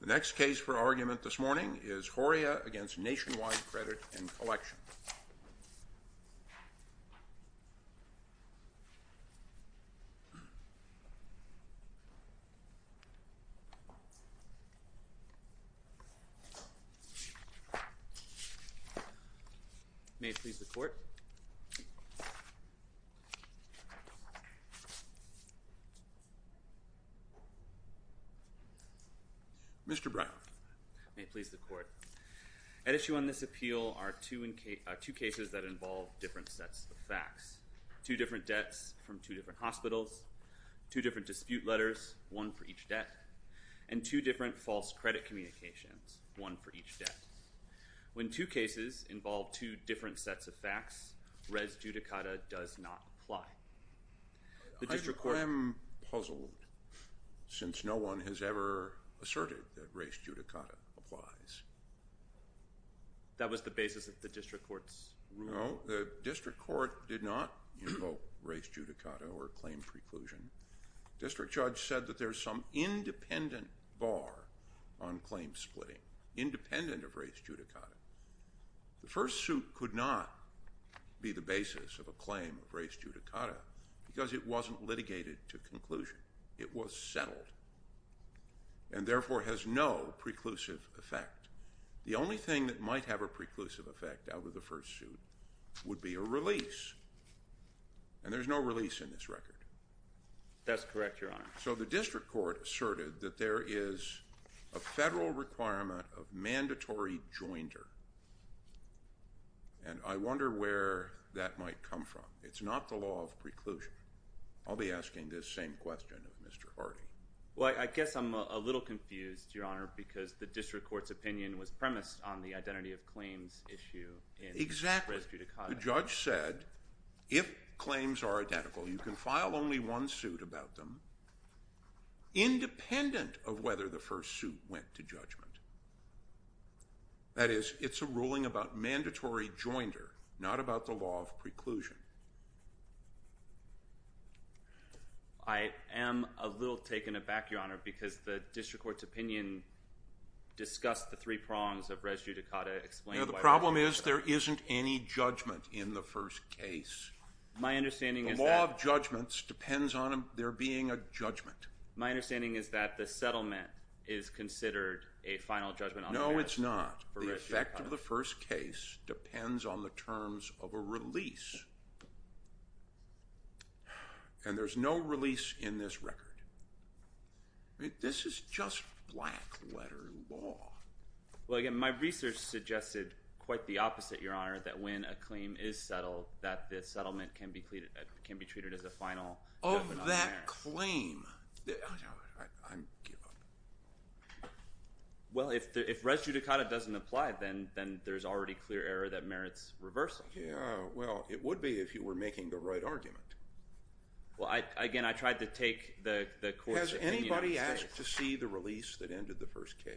The next case for argument this morning is Horia v. Nationwide Credit & Collection. May it please the Court. Mr. Brown. May it please the Court. At issue on this appeal are two cases that involve different sets of facts. Two different debts from two different hospitals. Two different dispute letters, one for each debt. And two different false credit communications, one for each debt. When two cases involve two different sets of facts, res judicata does not apply. I am puzzled since no one has ever asserted that res judicata applies. That was the basis of the District Court's ruling? No, the District Court did not invoke res judicata or claim preclusion. The District Judge said that there is some independent bar on claim splitting, independent of res judicata. The first suit could not be the basis of a claim of res judicata because it wasn't litigated to conclusion. It was settled and therefore has no preclusive effect. The only thing that might have a preclusive effect out of the first suit would be a release. And there's no release in this record. That's correct, Your Honor. So the District Court asserted that there is a federal requirement of mandatory jointer. And I wonder where that might come from. It's not the law of preclusion. I'll be asking this same question of Mr. Hardy. Well, I guess I'm a little confused, Your Honor, because the District Court's opinion was premised on the identity of claims issue in res judicata. The Judge said if claims are identical, you can file only one suit about them, independent of whether the first suit went to judgment. That is, it's a ruling about mandatory jointer, not about the law of preclusion. I am a little taken aback, Your Honor, because the District Court's opinion discussed the three prongs of res judicata. The problem is there isn't any judgment in the first case. The law of judgments depends on there being a judgment. My understanding is that the settlement is considered a final judgment on the matter. No, it's not. The effect of the first case depends on the terms of a release. And there's no release in this record. This is just black-letter law. Well, again, my research suggested quite the opposite, Your Honor, that when a claim is settled, that the settlement can be treated as a final judgment on the matter. Oh, that claim. I give up. Well, if res judicata doesn't apply, then there's already clear error that merits reversal. Yeah, well, it would be if you were making the right argument. Has anybody asked to see the release that ended the first case?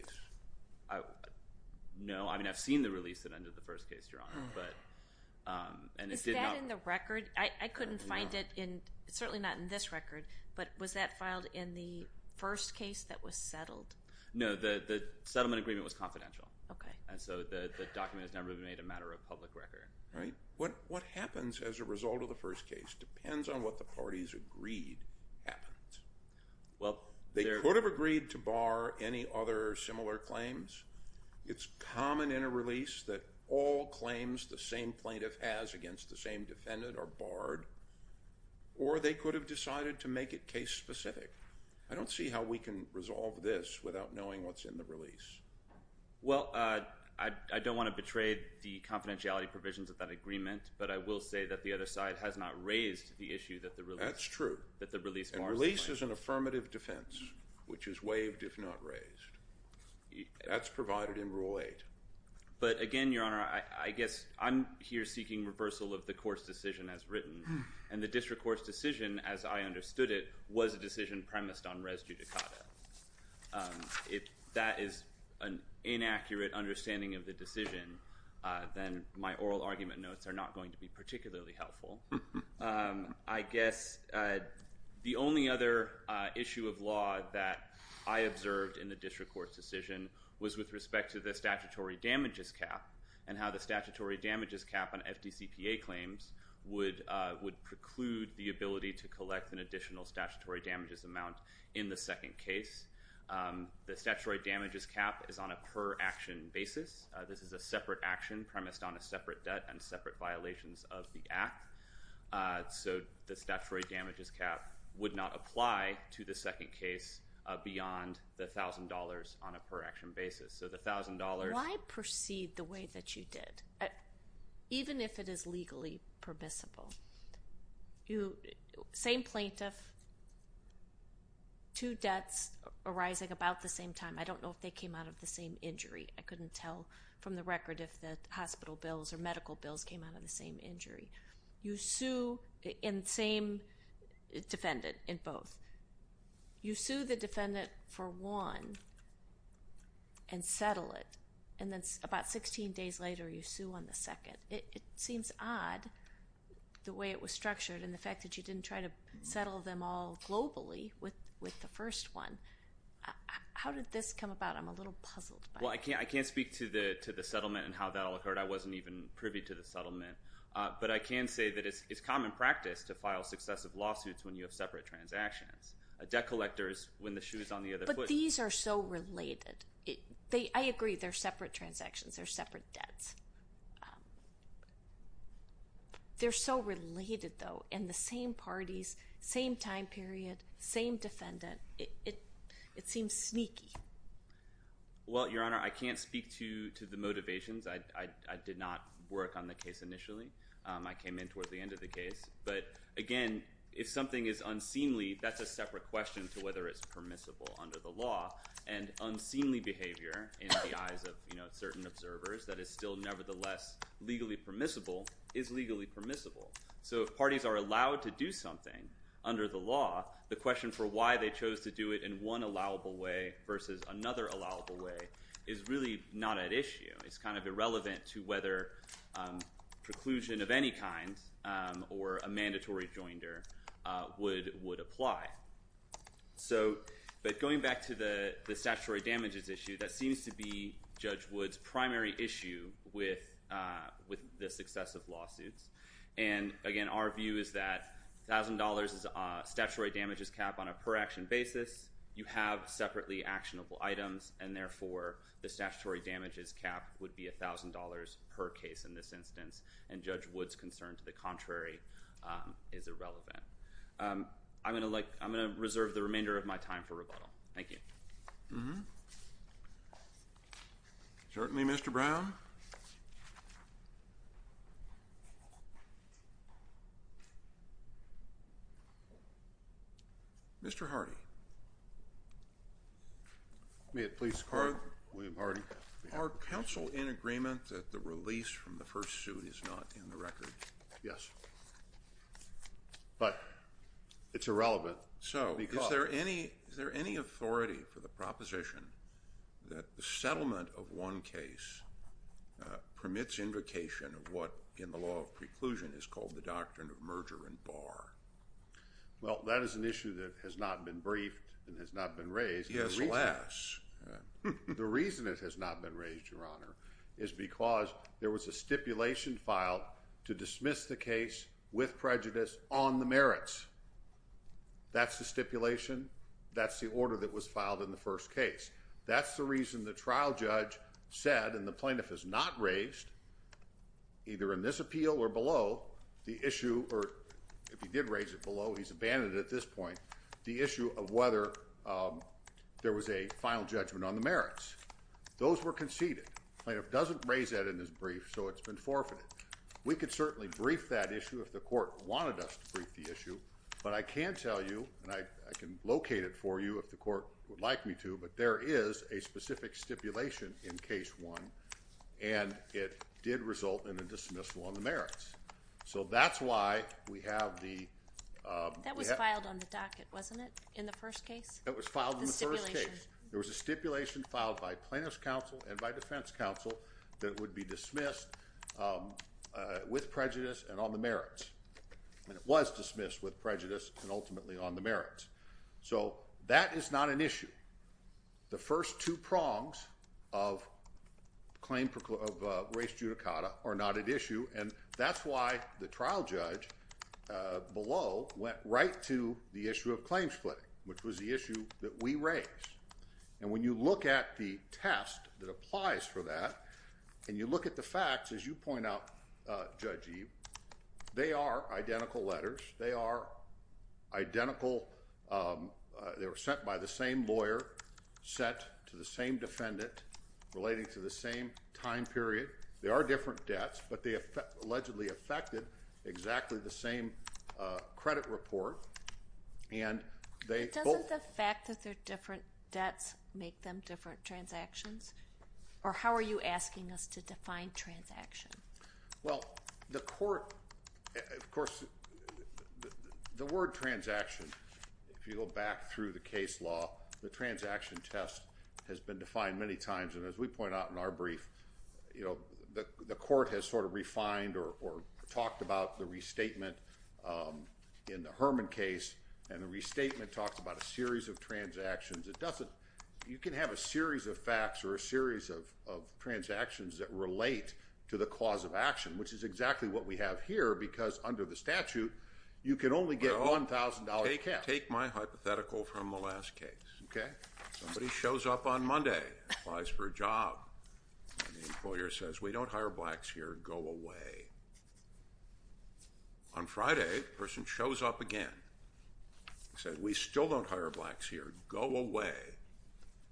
No. I mean, I've seen the release that ended the first case, Your Honor. Is that in the record? I couldn't find it in ñ certainly not in this record. But was that filed in the first case that was settled? No, the settlement agreement was confidential. Okay. And so the document has never been made a matter of public record. What happens as a result of the first case depends on what the parties agreed happened. They could have agreed to bar any other similar claims. It's common in a release that all claims the same plaintiff has against the same defendant are barred. Or they could have decided to make it case-specific. I don't see how we can resolve this without knowing what's in the release. Well, I don't want to betray the confidentiality provisions of that agreement, but I will say that the other side has not raised the issue that the release ñ That's true. ñ that the release bars the plaintiff. And release is an affirmative defense, which is waived if not raised. That's provided in Rule 8. But, again, Your Honor, I guess I'm here seeking reversal of the court's decision as written. And the district court's decision, as I understood it, was a decision premised on res judicata. If that is an inaccurate understanding of the decision, then my oral argument notes are not going to be particularly helpful. I guess the only other issue of law that I observed in the district court's decision was with respect to the statutory damages cap and how the statutory damages cap on FDCPA claims would preclude the ability to collect an additional statutory damages amount in the second case. The statutory damages cap is on a per-action basis. This is a separate action premised on a separate debt and separate violations of the act. So the statutory damages cap would not apply to the second case beyond the $1,000 on a per-action basis. So the $1,000ó Why proceed the way that you did, even if it is legally permissible? Same plaintiff, two debts arising about the same time. I don't know if they came out of the same injury. I couldn't tell from the record if the hospital bills or medical bills came out of the same injury. You sue the same defendant in both. You sue the defendant for one and settle it. And then about 16 days later, you sue on the second. It seems odd the way it was structured and the fact that you didn't try to settle them all globally with the first one. How did this come about? I'm a little puzzled by it. Well, I can't speak to the settlement and how that all occurred. I wasn't even privy to the settlement. But I can say that it's common practice to file successive lawsuits when you have separate transactions. Debt collectors win the shoes on the other foot. But these are so related. I agree they're separate transactions. They're separate debts. They're so related, though, in the same parties, same time period, same defendant. It seems sneaky. Well, Your Honor, I can't speak to the motivations. I did not work on the case initially. I came in towards the end of the case. But, again, if something is unseemly, that's a separate question to whether it's permissible under the law. And unseemly behavior in the eyes of certain observers that is still nevertheless legally permissible is legally permissible. So if parties are allowed to do something under the law, the question for why they chose to do it in one allowable way versus another allowable way is really not at issue. It's kind of irrelevant to whether preclusion of any kind or a mandatory joinder would apply. But going back to the statutory damages issue, that seems to be Judge Wood's primary issue with the success of lawsuits. And, again, our view is that $1,000 is a statutory damages cap on a per-action basis. You have separately actionable items. And, therefore, the statutory damages cap would be $1,000 per case in this instance. And Judge Wood's concern to the contrary is irrelevant. I'm going to reserve the remainder of my time for rebuttal. Thank you. Certainly, Mr. Brown. Mr. Hardy. May it please the Court. Are counsel in agreement that the release from the first suit is not in the record? Yes. But it's irrelevant. So is there any authority for the proposition that the settlement of one case permits invocation of what in the law of preclusion is called the doctrine of merger and bar? Well, that is an issue that has not been briefed and has not been raised. Yes, alas. The reason it has not been raised, Your Honor, is because there was a stipulation filed to dismiss the case with prejudice on the merits. That's the stipulation. That's the order that was filed in the first case. That's the reason the trial judge said, and the plaintiff has not raised, either in this appeal or below, the issue, or if he did raise it below, he's abandoned it at this point, the issue of whether there was a final judgment on the merits. Those were conceded. The plaintiff doesn't raise that in his brief, so it's been forfeited. We could certainly brief that issue if the court wanted us to brief the issue, but I can tell you, and I can locate it for you if the court would like me to, but there is a specific stipulation in case one, and it did result in a dismissal on the merits. So that's why we have the ‑‑ That was filed on the docket, wasn't it, in the first case? It was filed in the first case. The stipulation. That would be dismissed with prejudice and on the merits. And it was dismissed with prejudice and ultimately on the merits. So that is not an issue. The first two prongs of claim ‑‑ of race judicata are not at issue, and that's why the trial judge below went right to the issue of claim splitting, which was the issue that we raised. And when you look at the test that applies for that, and you look at the facts, as you point out, Judge Eve, they are identical letters. They are identical ‑‑ they were sent by the same lawyer, sent to the same defendant, relating to the same time period. They are different debts, but they allegedly affected exactly the same credit report, and they both ‑‑ But doesn't the fact that they're different debts make them different transactions, or how are you asking us to define transaction? Well, the court ‑‑ of course, the word transaction, if you go back through the case law, the transaction test has been defined many times, and as we point out in our brief, you know, the court has sort of refined or talked about the restatement in the Herman case, and the restatement talks about a series of transactions. It doesn't ‑‑ you can have a series of facts or a series of transactions that relate to the cause of action, which is exactly what we have here, because under the statute, you can only get $1,000 pay cap. Well, take my hypothetical from the last case, okay? Somebody shows up on Monday, applies for a job, and the employer says, we don't hire blacks here, go away. On Friday, the person shows up again, says, we still don't hire blacks here, go away.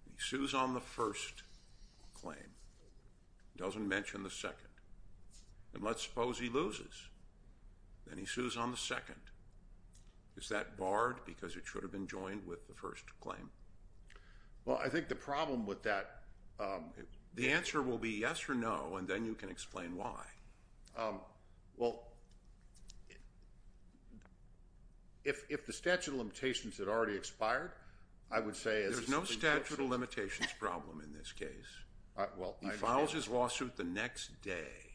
He sues on the first claim, doesn't mention the second, and let's suppose he loses, and he sues on the second. Is that barred because it should have been joined with the first claim? Well, I think the problem with that ‑‑ The answer will be yes or no, and then you can explain why. Well, if the statute of limitations had already expired, I would say as a ‑‑ There's no statute of limitations problem in this case. He files his lawsuit the next day.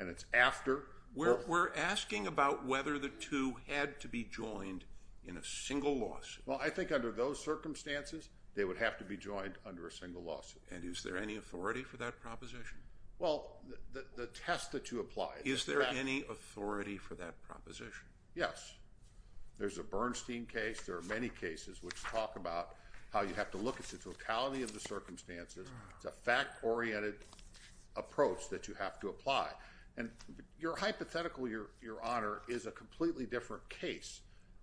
And it's after ‑‑ We're asking about whether the two had to be joined in a single lawsuit. Well, I think under those circumstances, they would have to be joined under a single lawsuit. And is there any authority for that proposition? Well, the test that you apply ‑‑ Is there any authority for that proposition? Yes. There's a Bernstein case. There are many cases which talk about how you have to look at the totality of the circumstances. It's a fact‑oriented approach that you have to apply. And your hypothetical, Your Honor, is a completely different case.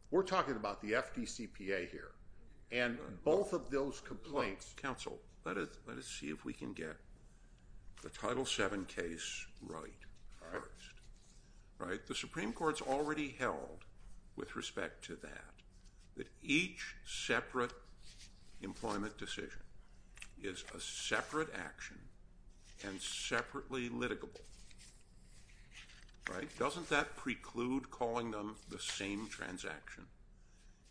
We're talking about the FDCPA here. And both of those complaints ‑‑ Counsel, let us see if we can get the Title VII case right first. All right. The Supreme Court has already held, with respect to that, that each separate employment decision is a separate action and separately litigable. Right? Doesn't that preclude calling them the same transaction?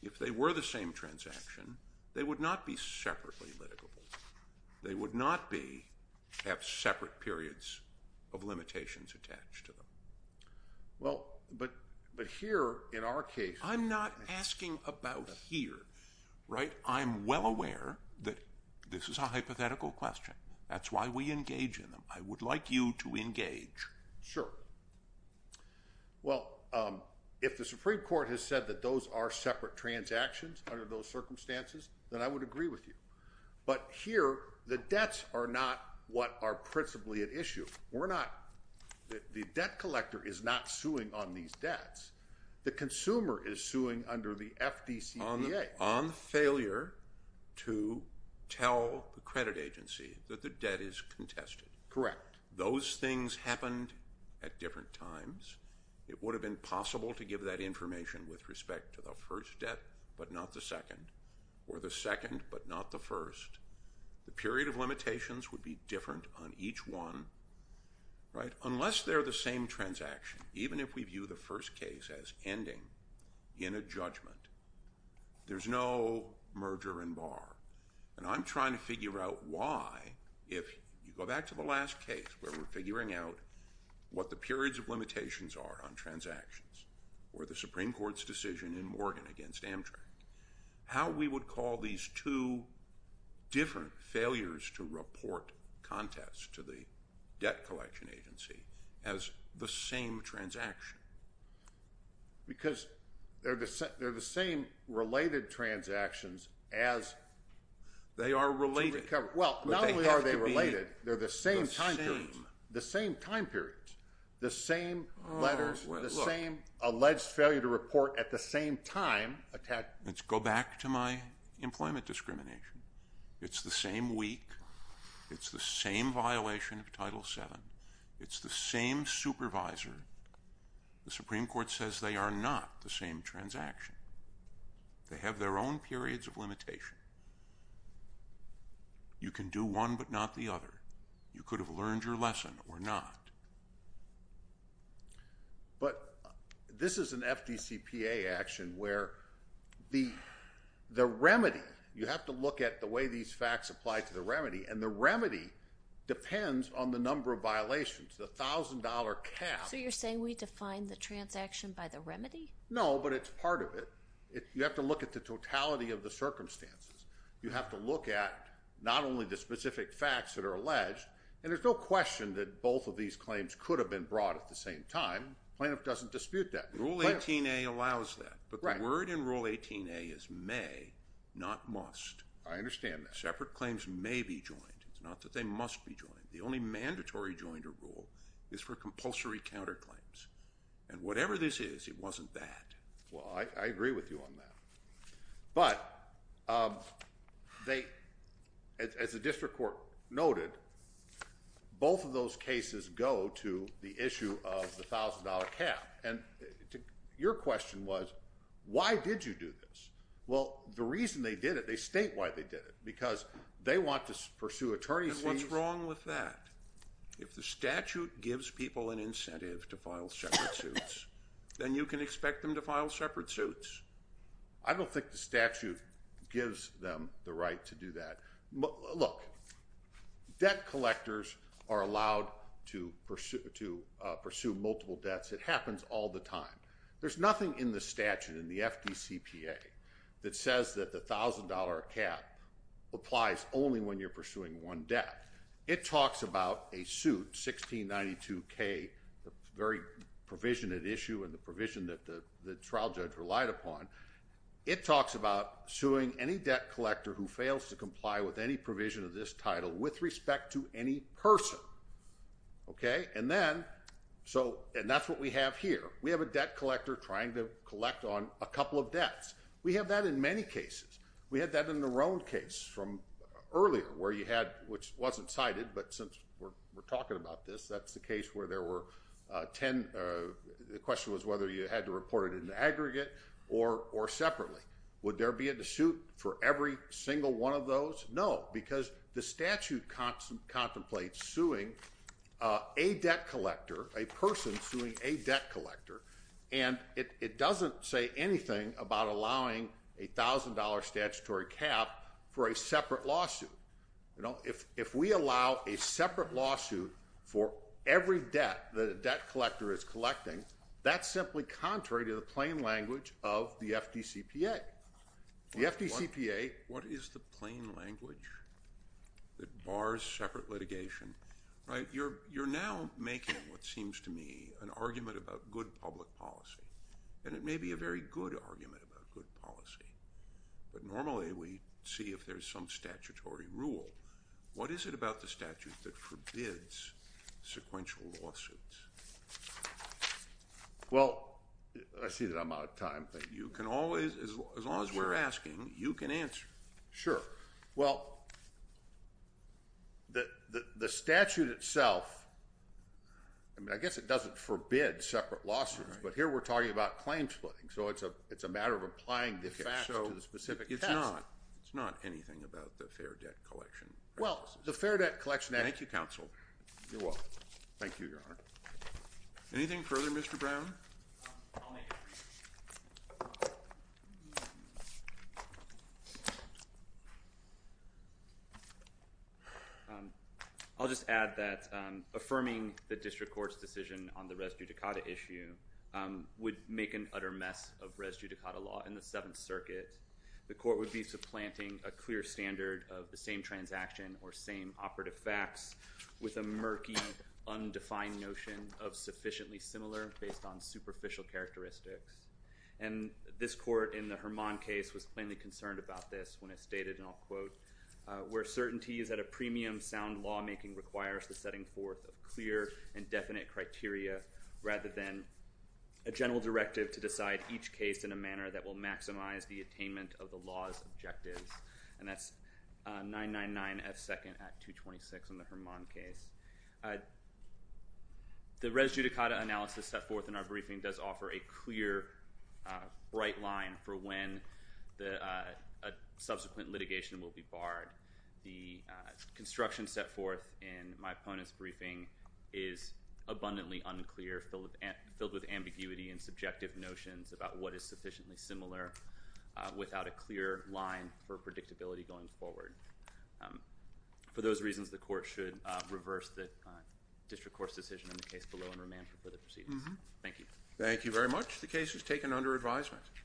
If they were the same transaction, they would not be separately litigable. They would not have separate periods of limitations attached to them. Well, but here, in our case ‑‑ I'm not asking about here. Right? I'm well aware that this is a hypothetical question. That's why we engage in them. I would like you to engage. Sure. Well, if the Supreme Court has said that those are separate transactions under those circumstances, then I would agree with you. But here, the debts are not what are principally at issue. We're not ‑‑ the debt collector is not suing on these debts. The consumer is suing under the FDCPA. On failure to tell the credit agency that the debt is contested. Correct. Those things happened at different times. It would have been possible to give that information with respect to the first debt but not the second, or the second but not the first. The period of limitations would be different on each one. Right? Unless they're the same transaction, even if we view the first case as ending in a judgment, there's no merger and bar. And I'm trying to figure out why if you go back to the last case where we're figuring out what the periods of limitations are on transactions or the Supreme Court's decision in Morgan against Amtrak, how we would call these two different failures to report contests to the debt collection agency as the same transaction. Because they're the same related transactions as ‑‑ They are related. Well, not only are they related, they're the same time periods. The same. The same time periods. The same letters, the same alleged failure to report at the same time. Let's go back to my employment discrimination. It's the same week. It's the same violation of Title VII. It's the same supervisor. The Supreme Court says they are not the same transaction. They have their own periods of limitation. You can do one but not the other. You could have learned your lesson or not. But this is an FDCPA action where the remedy, and the remedy depends on the number of violations, the $1,000 cap. So you're saying we define the transaction by the remedy? No, but it's part of it. You have to look at the totality of the circumstances. You have to look at not only the specific facts that are alleged, and there's no question that both of these claims could have been brought at the same time. Plaintiff doesn't dispute that. Rule 18A allows that. But the word in Rule 18A is may, not must. I understand that. Separate claims may be joined. It's not that they must be joined. The only mandatory joiner rule is for compulsory counterclaims. And whatever this is, it wasn't that. Well, I agree with you on that. But as the district court noted, both of those cases go to the issue of the $1,000 cap. And your question was, why did you do this? Well, the reason they did it, they state why they did it, because they want to pursue attorney's fees. And what's wrong with that? If the statute gives people an incentive to file separate suits, then you can expect them to file separate suits. I don't think the statute gives them the right to do that. Look, debt collectors are allowed to pursue multiple debts. It happens all the time. There's nothing in the statute, in the FDCPA, that says that the $1,000 cap applies only when you're pursuing one debt. It talks about a suit, 1692K, the very provision at issue and the provision that the trial judge relied upon. It talks about suing any debt collector who fails to comply with any provision of this title with respect to any person. Okay? And then, and that's what we have here. We have a debt collector trying to collect on a couple of debts. We have that in many cases. We had that in the Roan case from earlier, where you had, which wasn't cited, but since we're talking about this, that's the case where there were 10. The question was whether you had to report it in the aggregate or separately. Would there be a suit for every single one of those? No, because the statute contemplates suing a debt collector, a person suing a debt collector, and it doesn't say anything about allowing a $1,000 statutory cap for a separate lawsuit. If we allow a separate lawsuit for every debt that a debt collector is collecting, that's simply contrary to the plain language of the FDCPA. The FDCPA? What is the plain language that bars separate litigation? You're now making, it seems to me, an argument about good public policy, and it may be a very good argument about good policy, but normally we see if there's some statutory rule. What is it about the statute that forbids sequential lawsuits? Well, I see that I'm out of time. But you can always, as long as we're asking, you can answer. Sure. Well, the statute itself, I mean, I guess it doesn't forbid separate lawsuits, but here we're talking about claim splitting, so it's a matter of applying the facts to the specific test. Okay, so it's not anything about the fair debt collection. Well, the fair debt collection… Thank you, counsel. You're welcome. Thank you, Your Honor. Anything further, Mr. Brown? I'll make it brief. I'll just add that affirming the district court's decision on the res judicata issue would make an utter mess of res judicata law. In the Seventh Circuit, the court would be supplanting a clear standard of the same transaction or same operative facts with a murky, undefined notion of sufficiently similar based on superficial characteristics. And this court in the Hermon case was plainly concerned about this when it stated, and I'll quote, where certainty is that a premium sound lawmaking requires the setting forth of clear and definite criteria rather than a general directive to decide each case in a manner that will maximize the attainment of the law's objectives. And that's 999F2nd Act 226 in the Hermon case. The res judicata analysis set forth in our briefing does offer a clear, bright line for when a subsequent litigation will be barred. The construction set forth in my opponent's briefing is abundantly unclear, filled with ambiguity and subjective notions about what is sufficiently similar without a clear line for predictability going forward. For those reasons, the court should reverse the district court's decision in the case below and remand for further proceedings. Thank you. Thank you very much. The case is taken under advisement.